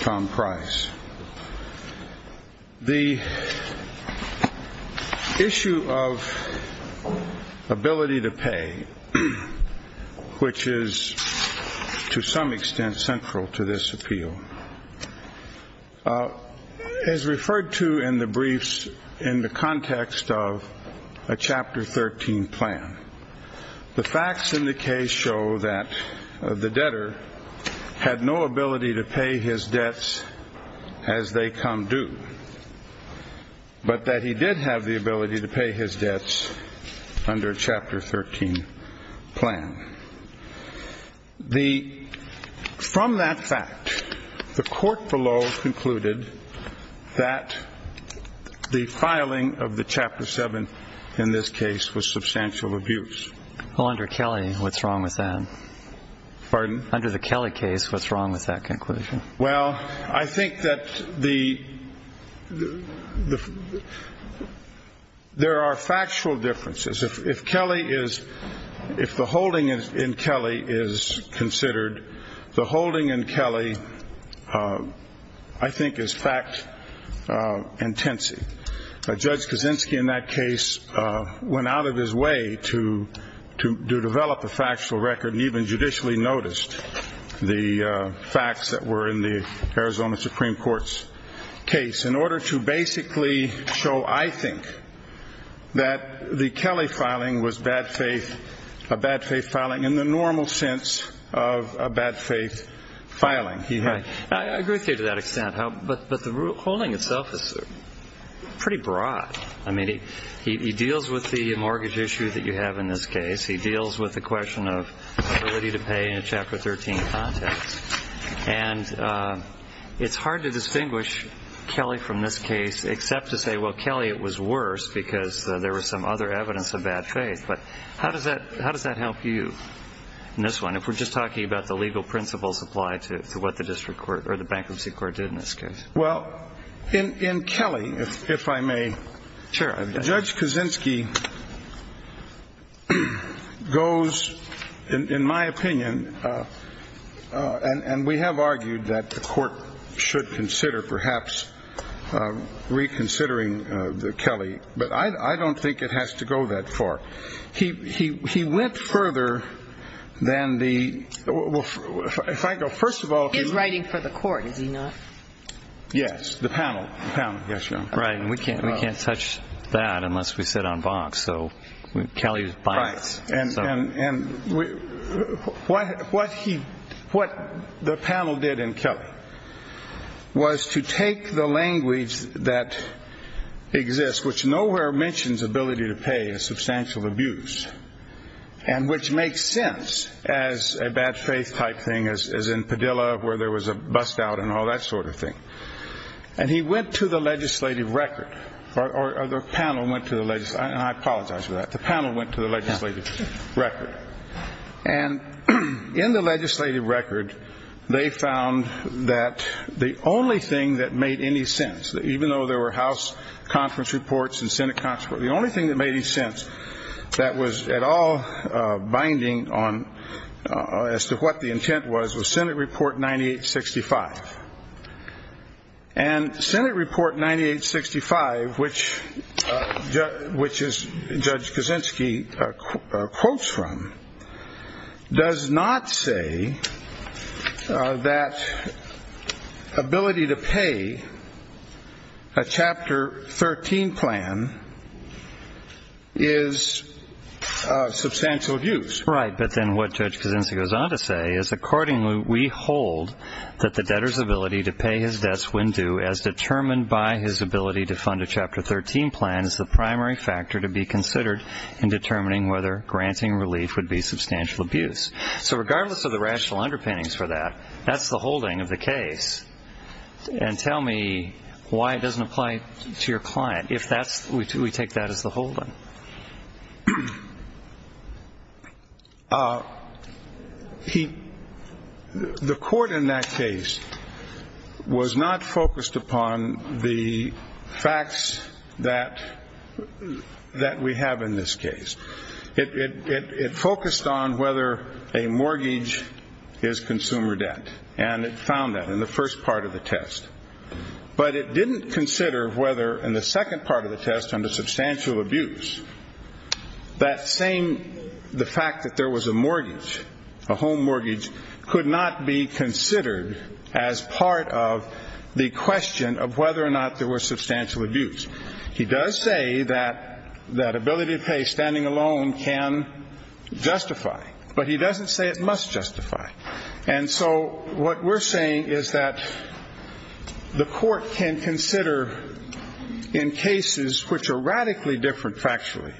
Tom Price. The issue of ability to pay, which is to some extent central to this appeal, is referred to in the briefs in the context of a Chapter 13 plan. The facts in the case show that the debtor had no ability to pay his debts as they come due, but that he did have the ability to pay his debts under a Chapter 13 plan. From that fact, the court below concluded that the filing of the Chapter 7 in this case was substantial abuse. Well, under Kelly, what's wrong with that? Pardon? Under the Kelly case, what's wrong with that conclusion? Well, I think that there are factual differences. If the holding in Kelly is considered, the holding in Kelly, I think, is fact-intensive. Judge Kaczynski in that case went out of his way to develop a factual record and even judicially noticed the facts that were in the Arizona Supreme Court's case in order to basically show, I think, that the Kelly filing was a bad-faith filing in the normal sense of a bad-faith filing. I agree with you to that extent, but the holding itself is pretty broad. I mean, he deals with the mortgage issue that you have in this case. He deals with the question of ability to pay in a Chapter 13 context. And it's hard to distinguish Kelly from this case except to say, well, Kelly, it was worse because there was some other evidence of bad faith. But how does that help you in this one, if we're just talking about the legal principles applied to what the bankruptcy court did in this case? Well, in Kelly, if I may, Judge Kaczynski goes, in my opinion, and we have argued that the Court should consider perhaps reconsidering the Kelly. But I don't think it has to go that far. He went further than the First of all... He's writing for the Court, is he not? Yes. The panel. The panel. Yes, Your Honor. Right. And we can't touch that unless we sit on Vox. So Kelly is biased. Right. And what the panel did in Kelly was to take the language that exists, which nowhere mentions ability to pay to substantial abuse, and which makes sense as a bad faith type thing, as in Padilla, where there was a bust-out and all that sort of thing. And he went to the legislative record, or the panel went to the legislative... And I apologize for that. The panel went to the legislative record. And in the legislative record, they found that the only thing that made any sense, even though there were House conference reports and Senate conference reports, the only thing that made any sense that was at all binding on... as to what the intent was, was Senate Report 9865. And Senate Report 9865, which Judge Kaczynski quotes from, does not say that ability to pay a Chapter 13 plan is substantial abuse. Right. But then what Judge Kaczynski goes on to say is, Accordingly, we hold that the debtor's ability to pay his debts when due, as determined by his ability to fund a Chapter 13 plan, is the primary factor to be considered in determining whether granting relief would be substantial abuse. So regardless of the rational underpinnings for that, that's the holding of the case. And tell me why it doesn't apply to your client, if we take that as the holding. The court in that case was not focused upon the facts that we have in this case. It focused on whether a mortgage is consumer debt. And it found that in the first part of the test. But it didn't consider whether, in the second part of the test, under substantial abuse, that same... the fact that there was a mortgage, a home mortgage, could not be considered as part of the question of whether or not there was substantial abuse. He does say that that ability to pay standing alone can justify, but he doesn't say it must justify. And so what we're saying is that the court can consider in cases which are radically different factually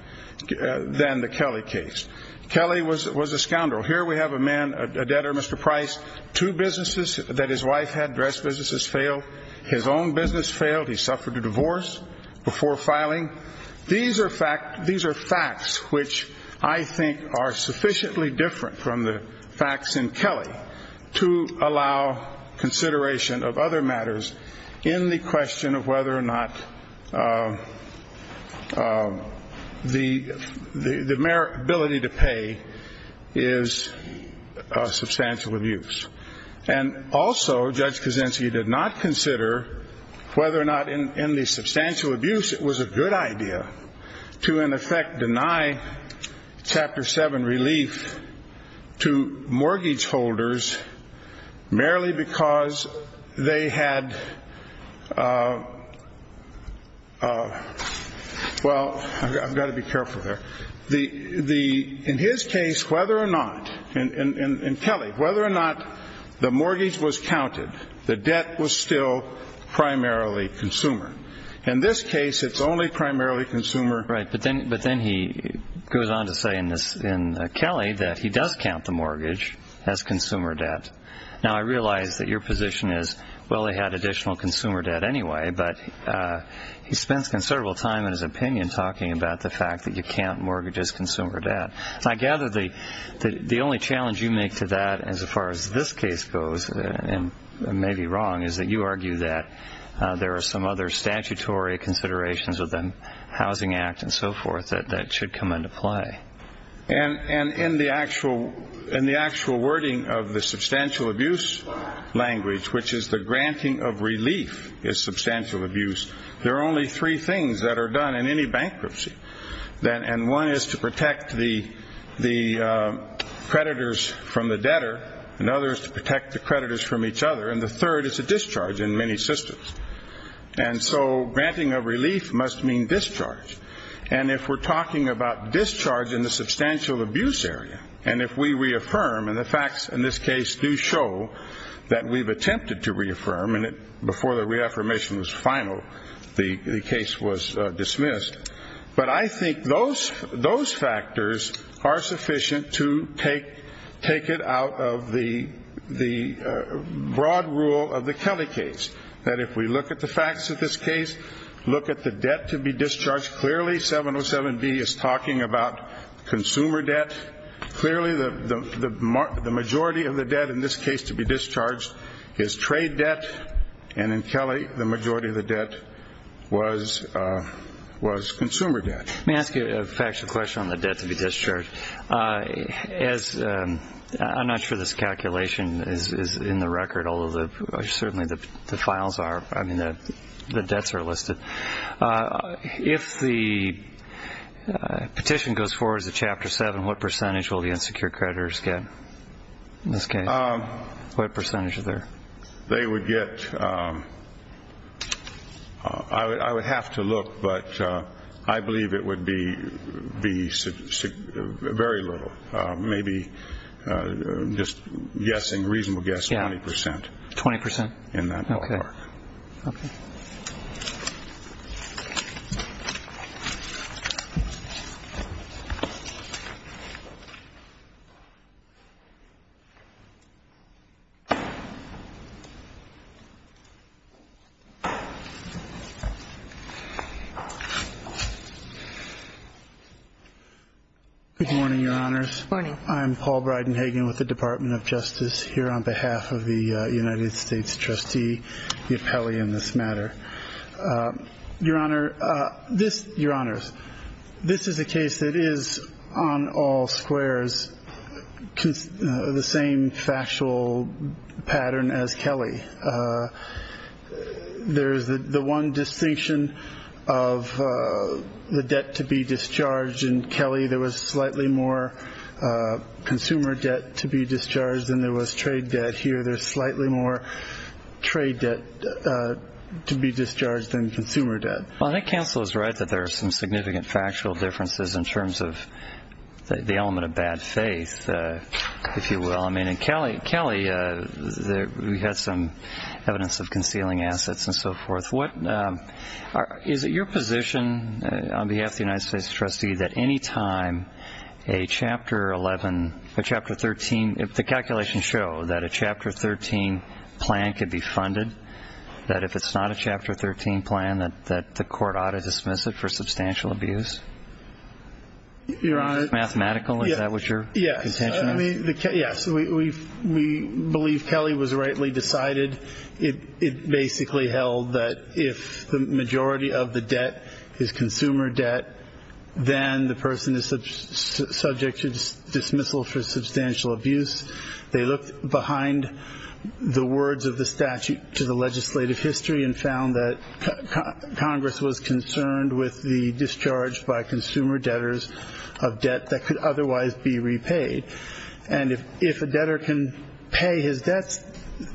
than the Kelly case. Kelly was a scoundrel. Here we have a man, a debtor, Mr. Price. Two businesses that his wife had, dress businesses, failed. His own business failed. He suffered a divorce before filing. These are facts which I think are sufficiently different from the facts in Kelly to allow consideration of other matters in the question of whether or not the mere ability to pay is substantial abuse. And also, Judge Kuczynski did not consider whether or not in the substantial abuse it was a good idea to, in effect, deny Chapter 7 relief to mortgage holders merely because they had... Well, I've got to be careful here. In his case, whether or not, in Kelly, whether or not the mortgage was counted, the debt was still primarily consumer. In this case, it's only primarily consumer. Right, but then he goes on to say in Kelly that he does count the mortgage as consumer debt. Now, I realize that your position is, well, they had additional consumer debt anyway, but he spends considerable time in his opinion talking about the fact that you can't mortgage as consumer debt. I gather the only challenge you make to that as far as this case goes, and I may be wrong, is that you argue that there are some other statutory considerations within the Housing Act and so forth that should come into play. And in the actual wording of the substantial abuse language, which is the granting of relief is substantial abuse, there are only three things that are done in any bankruptcy. And one is to protect the creditors from the debtor, another is to protect the creditors from each other, and the third is a discharge in many systems. And so granting of relief must mean discharge. And if we're talking about discharge in the substantial abuse area, and if we reaffirm, and the facts in this case do show that we've attempted to reaffirm, and before the reaffirmation was final, the case was dismissed, but I think those factors are sufficient to take it out of the broad rule of the Kelly case, that if we look at the facts of this case, look at the debt to be discharged, clearly 707B is talking about consumer debt. Clearly the majority of the debt in this case to be discharged is trade debt, and in Kelly the majority of the debt was consumer debt. Let me ask you a factual question on the debt to be discharged. I'm not sure this calculation is in the record, although certainly the files are. I mean the debts are listed. If the petition goes forward as a Chapter 7, what percentage will the unsecured creditors get in this case? What percentage is there? They would get ‑‑ I would have to look, but I believe it would be very little, maybe just guessing, reasonable guessing, 20%. 20%? In that part. Okay. Good morning, Your Honors. Good morning. I'm Paul Bridenhagen with the Department of Justice, here on behalf of the United States Trustee, the appellee in this matter. Your Honor, this ‑‑ Your Honors, this is a case that is on all squares, the same factual pattern as Kelly. There's the one distinction of the debt to be discharged in Kelly. There was slightly more consumer debt to be discharged than there was trade debt here. There's slightly more trade debt to be discharged than consumer debt. Well, I think counsel is right that there are some significant factual differences in terms of the element of bad faith, if you will. I mean in Kelly, we had some evidence of concealing assets and so forth. Is it your position, on behalf of the United States Trustee, that any time a Chapter 11, a Chapter 13, if the calculations show that a Chapter 13 plan could be funded, that if it's not a Chapter 13 plan, that the court ought to dismiss it for substantial abuse? Your Honor ‑‑ Mathematical? Is that what your contention is? Yes. We believe Kelly was rightly decided. It basically held that if the majority of the debt is consumer debt, then the person is subject to dismissal for substantial abuse. They looked behind the words of the statute to the legislative history and found that Congress was concerned with the discharge by consumer debtors of debt that could otherwise be repaid. And if a debtor can pay his debts,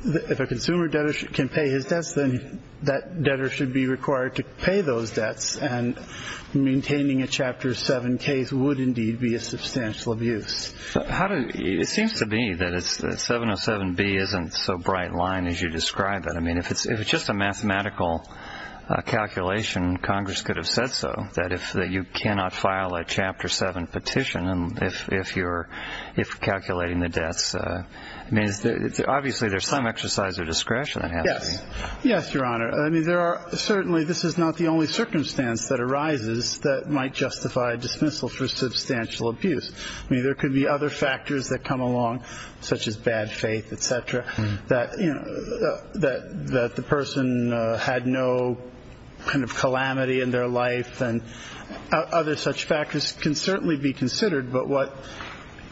if a consumer debtor can pay his debts, then that debtor should be required to pay those debts. And maintaining a Chapter 7 case would indeed be a substantial abuse. It seems to be that 707B isn't so bright a line as you describe it. I mean, if it's just a mathematical calculation, Congress could have said so, that you cannot file a Chapter 7 petition if you're calculating the debts. I mean, obviously there's some exercise of discretion that has to be ‑‑ Yes. Yes, Your Honor. Certainly this is not the only circumstance that arises that might justify dismissal for substantial abuse. I mean, there could be other factors that come along, such as bad faith, et cetera, that the person had no kind of calamity in their life, and other such factors can certainly be considered. But what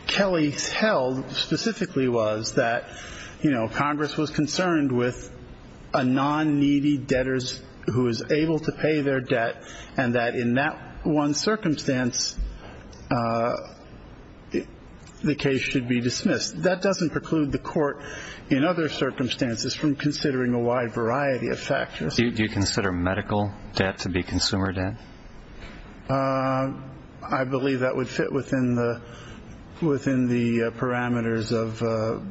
Kelly held specifically was that, you know, Congress was concerned with a non‑needy debtor who is able to pay their debt and that in that one circumstance the case should be dismissed. That doesn't preclude the court in other circumstances from considering a wide variety of factors. Do you consider medical debt to be consumer debt? I believe that would fit within the parameters of,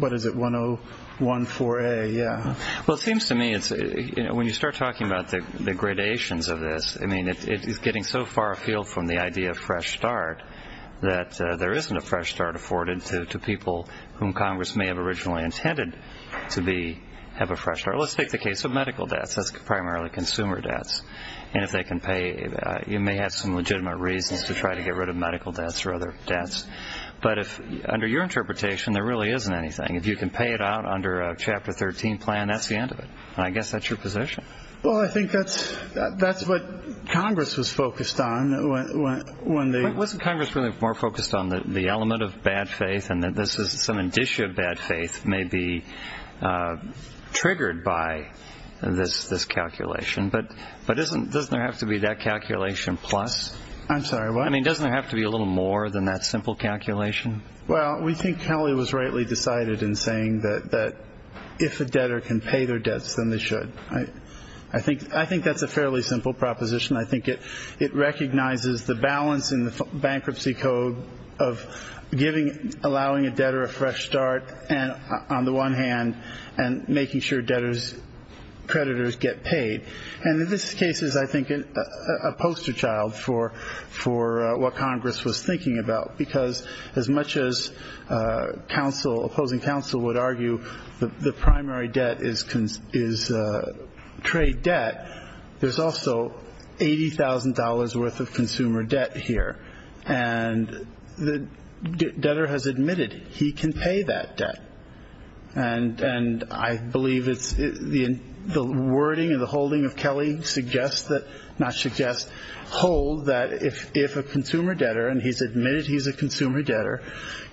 what is it, 1014A, yeah. Well, it seems to me, when you start talking about the gradations of this, I mean, it's getting so far afield from the idea of fresh start that there isn't a fresh start afforded to people whom Congress may have originally intended to have a fresh start. Let's take the case of medical debts. That's primarily consumer debts. And if they can pay, you may have some legitimate reasons to try to get rid of medical debts or other debts. But under your interpretation, there really isn't anything. If you can pay it out under a Chapter 13 plan, that's the end of it. And I guess that's your position. Well, I think that's what Congress was focused on. Wasn't Congress really more focused on the element of bad faith and that some indicia of bad faith may be triggered by this calculation? But doesn't there have to be that calculation plus? I'm sorry, what? I mean, doesn't there have to be a little more than that simple calculation? Well, we think Kelly was rightly decided in saying that if a debtor can pay their debts, then they should. I think that's a fairly simple proposition. I think it recognizes the balance in the bankruptcy code of allowing a debtor a fresh start on the one hand and making sure debtors' creditors get paid. And this case is, I think, a poster child for what Congress was thinking about because as much as opposing counsel would argue the primary debt is trade debt, there's also $80,000 worth of consumer debt here. And the debtor has admitted he can pay that debt. And I believe the wording and the holding of Kelly suggests that, not suggests, holds that if a consumer debtor, and he's admitted he's a consumer debtor,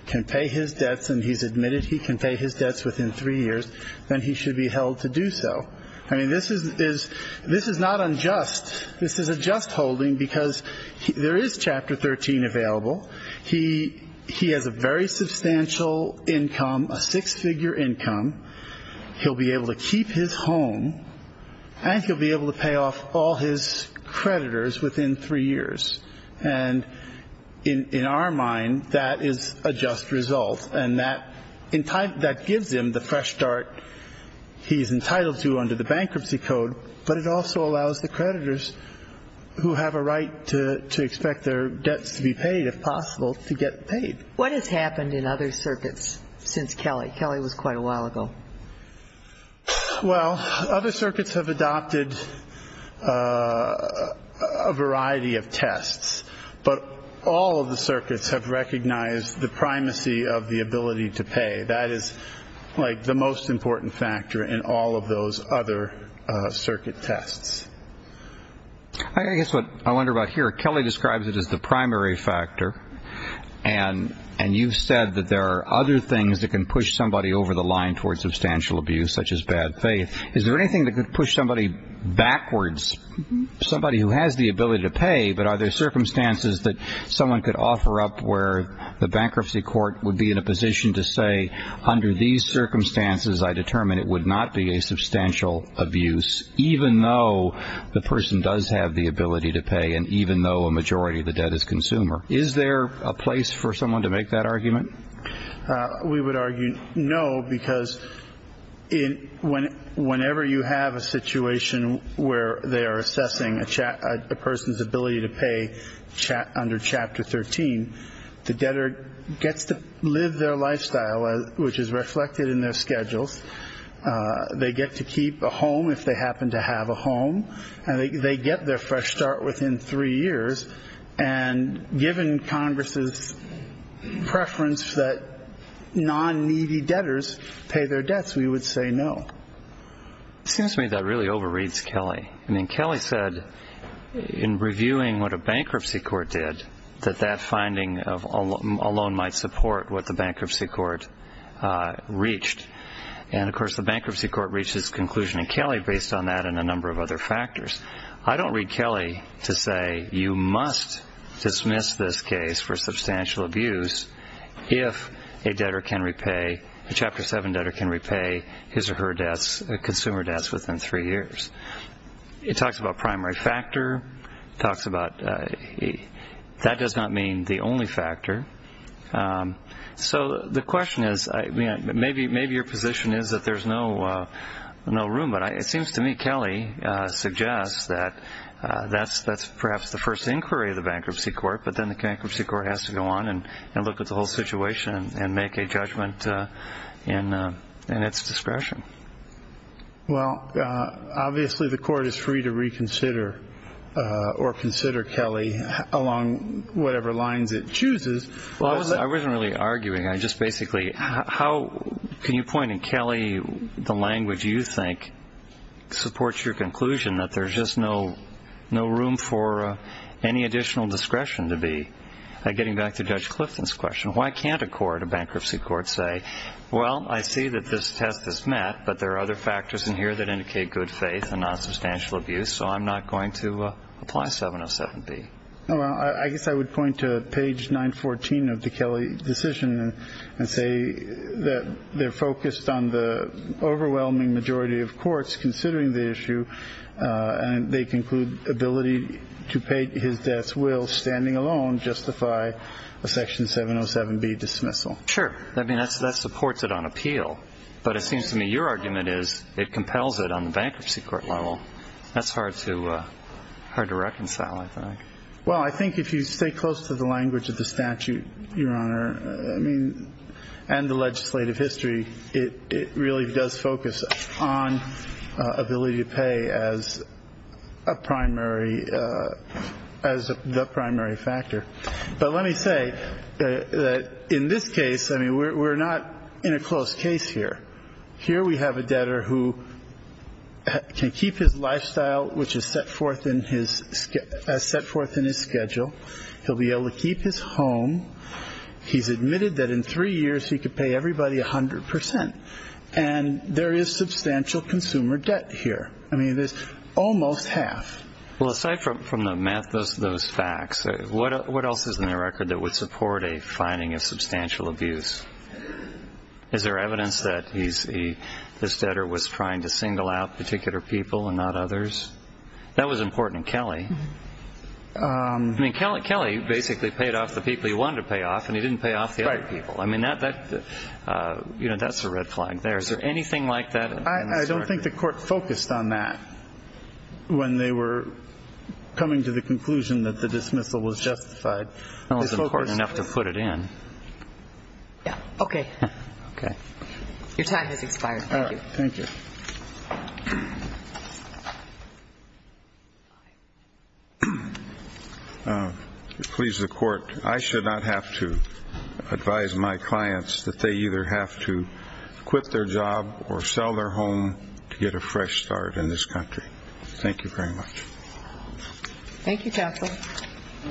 can pay his debts and he's admitted he can pay his debts within three years, then he should be held to do so. I mean, this is not unjust. This is a just holding because there is Chapter 13 available. He has a very substantial income, a six-figure income. He'll be able to keep his home. And he'll be able to pay off all his creditors within three years. And in our mind, that is a just result. And that gives him the fresh start he's entitled to under the bankruptcy code, but it also allows the creditors who have a right to expect their debts to be paid, if possible, to get paid. What has happened in other circuits since Kelly? Kelly was quite a while ago. Well, other circuits have adopted a variety of tests, but all of the circuits have recognized the primacy of the ability to pay. That is, like, the most important factor in all of those other circuit tests. I guess what I wonder about here, Kelly describes it as the primary factor, and you've said that there are other things that can push somebody over the line towards substantial abuse, such as bad faith. Is there anything that could push somebody backwards, somebody who has the ability to pay, but are there circumstances that someone could offer up where the bankruptcy court would be in a position to say, under these circumstances, I determine it would not be a substantial abuse, even though the person does have the ability to pay and even though a majority of the debt is consumer. Is there a place for someone to make that argument? We would argue no, because whenever you have a situation where they are assessing a person's ability to pay under Chapter 13, the debtor gets to live their lifestyle, which is reflected in their schedules. They get to keep a home if they happen to have a home, and they get their fresh start within three years. And given Congress's preference that non-needy debtors pay their debts, we would say no. It seems to me that really overreads Kelly. I mean, Kelly said in reviewing what a bankruptcy court did that that finding alone might support what the bankruptcy court reached. And, of course, the bankruptcy court reached its conclusion in Kelly based on that and a number of other factors. I don't read Kelly to say you must dismiss this case for substantial abuse if a debtor can repay, a Chapter 7 debtor can repay his or her debts, consumer debts, within three years. It talks about primary factor. It talks about that does not mean the only factor. So the question is, maybe your position is that there's no room, but it seems to me Kelly suggests that that's perhaps the first inquiry of the bankruptcy court, but then the bankruptcy court has to go on and look at the whole situation and make a judgment in its discretion. Well, obviously the court is free to reconsider or consider Kelly along whatever lines it chooses. I wasn't really arguing. I just basically how can you point in Kelly the language you think supports your conclusion that there's just no room for any additional discretion to be. Getting back to Judge Clifton's question, why can't a bankruptcy court say, well, I see that this test is met, but there are other factors in here that indicate good faith and not substantial abuse, so I'm not going to apply 707B. I guess I would point to page 914 of the Kelly decision and say that they're focused on the overwhelming majority of courts considering the issue, and they conclude ability to pay his debts will, standing alone, justify a section 707B dismissal. Sure. That supports it on appeal, but it seems to me your argument is it compels it on the bankruptcy court level. That's hard to reconcile, I think. Well, I think if you stay close to the language of the statute, Your Honor, and the legislative history, it really does focus on ability to pay as a primary, as the primary factor. But let me say that in this case, I mean, we're not in a close case here. Here we have a debtor who can keep his lifestyle, which is set forth in his schedule. He'll be able to keep his home. He's admitted that in three years he could pay everybody 100%, and there is substantial consumer debt here. I mean, there's almost half. Well, aside from those facts, what else is in the record that would support a finding of substantial abuse? Is there evidence that this debtor was trying to single out particular people and not others? That was important in Kelly. I mean, Kelly basically paid off the people he wanted to pay off, and he didn't pay off the other people. I mean, that's a red flag there. Is there anything like that? I don't think the court focused on that when they were coming to the conclusion that the dismissal was justified. That was important enough to put it in. Okay. Your time has expired. Thank you. Please, the court, I should not have to advise my clients that they either have to quit their job or sell their home to get a fresh start in this country. Thank you very much. Thank you, counsel.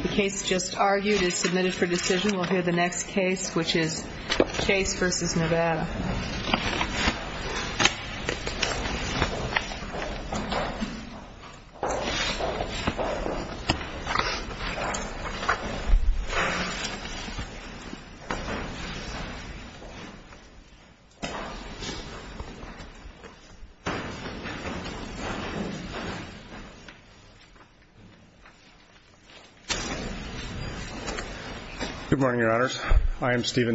The case just argued is submitted for decision. We'll hear the next case, which is Chase v. Nevada. Good morning, Your Honors.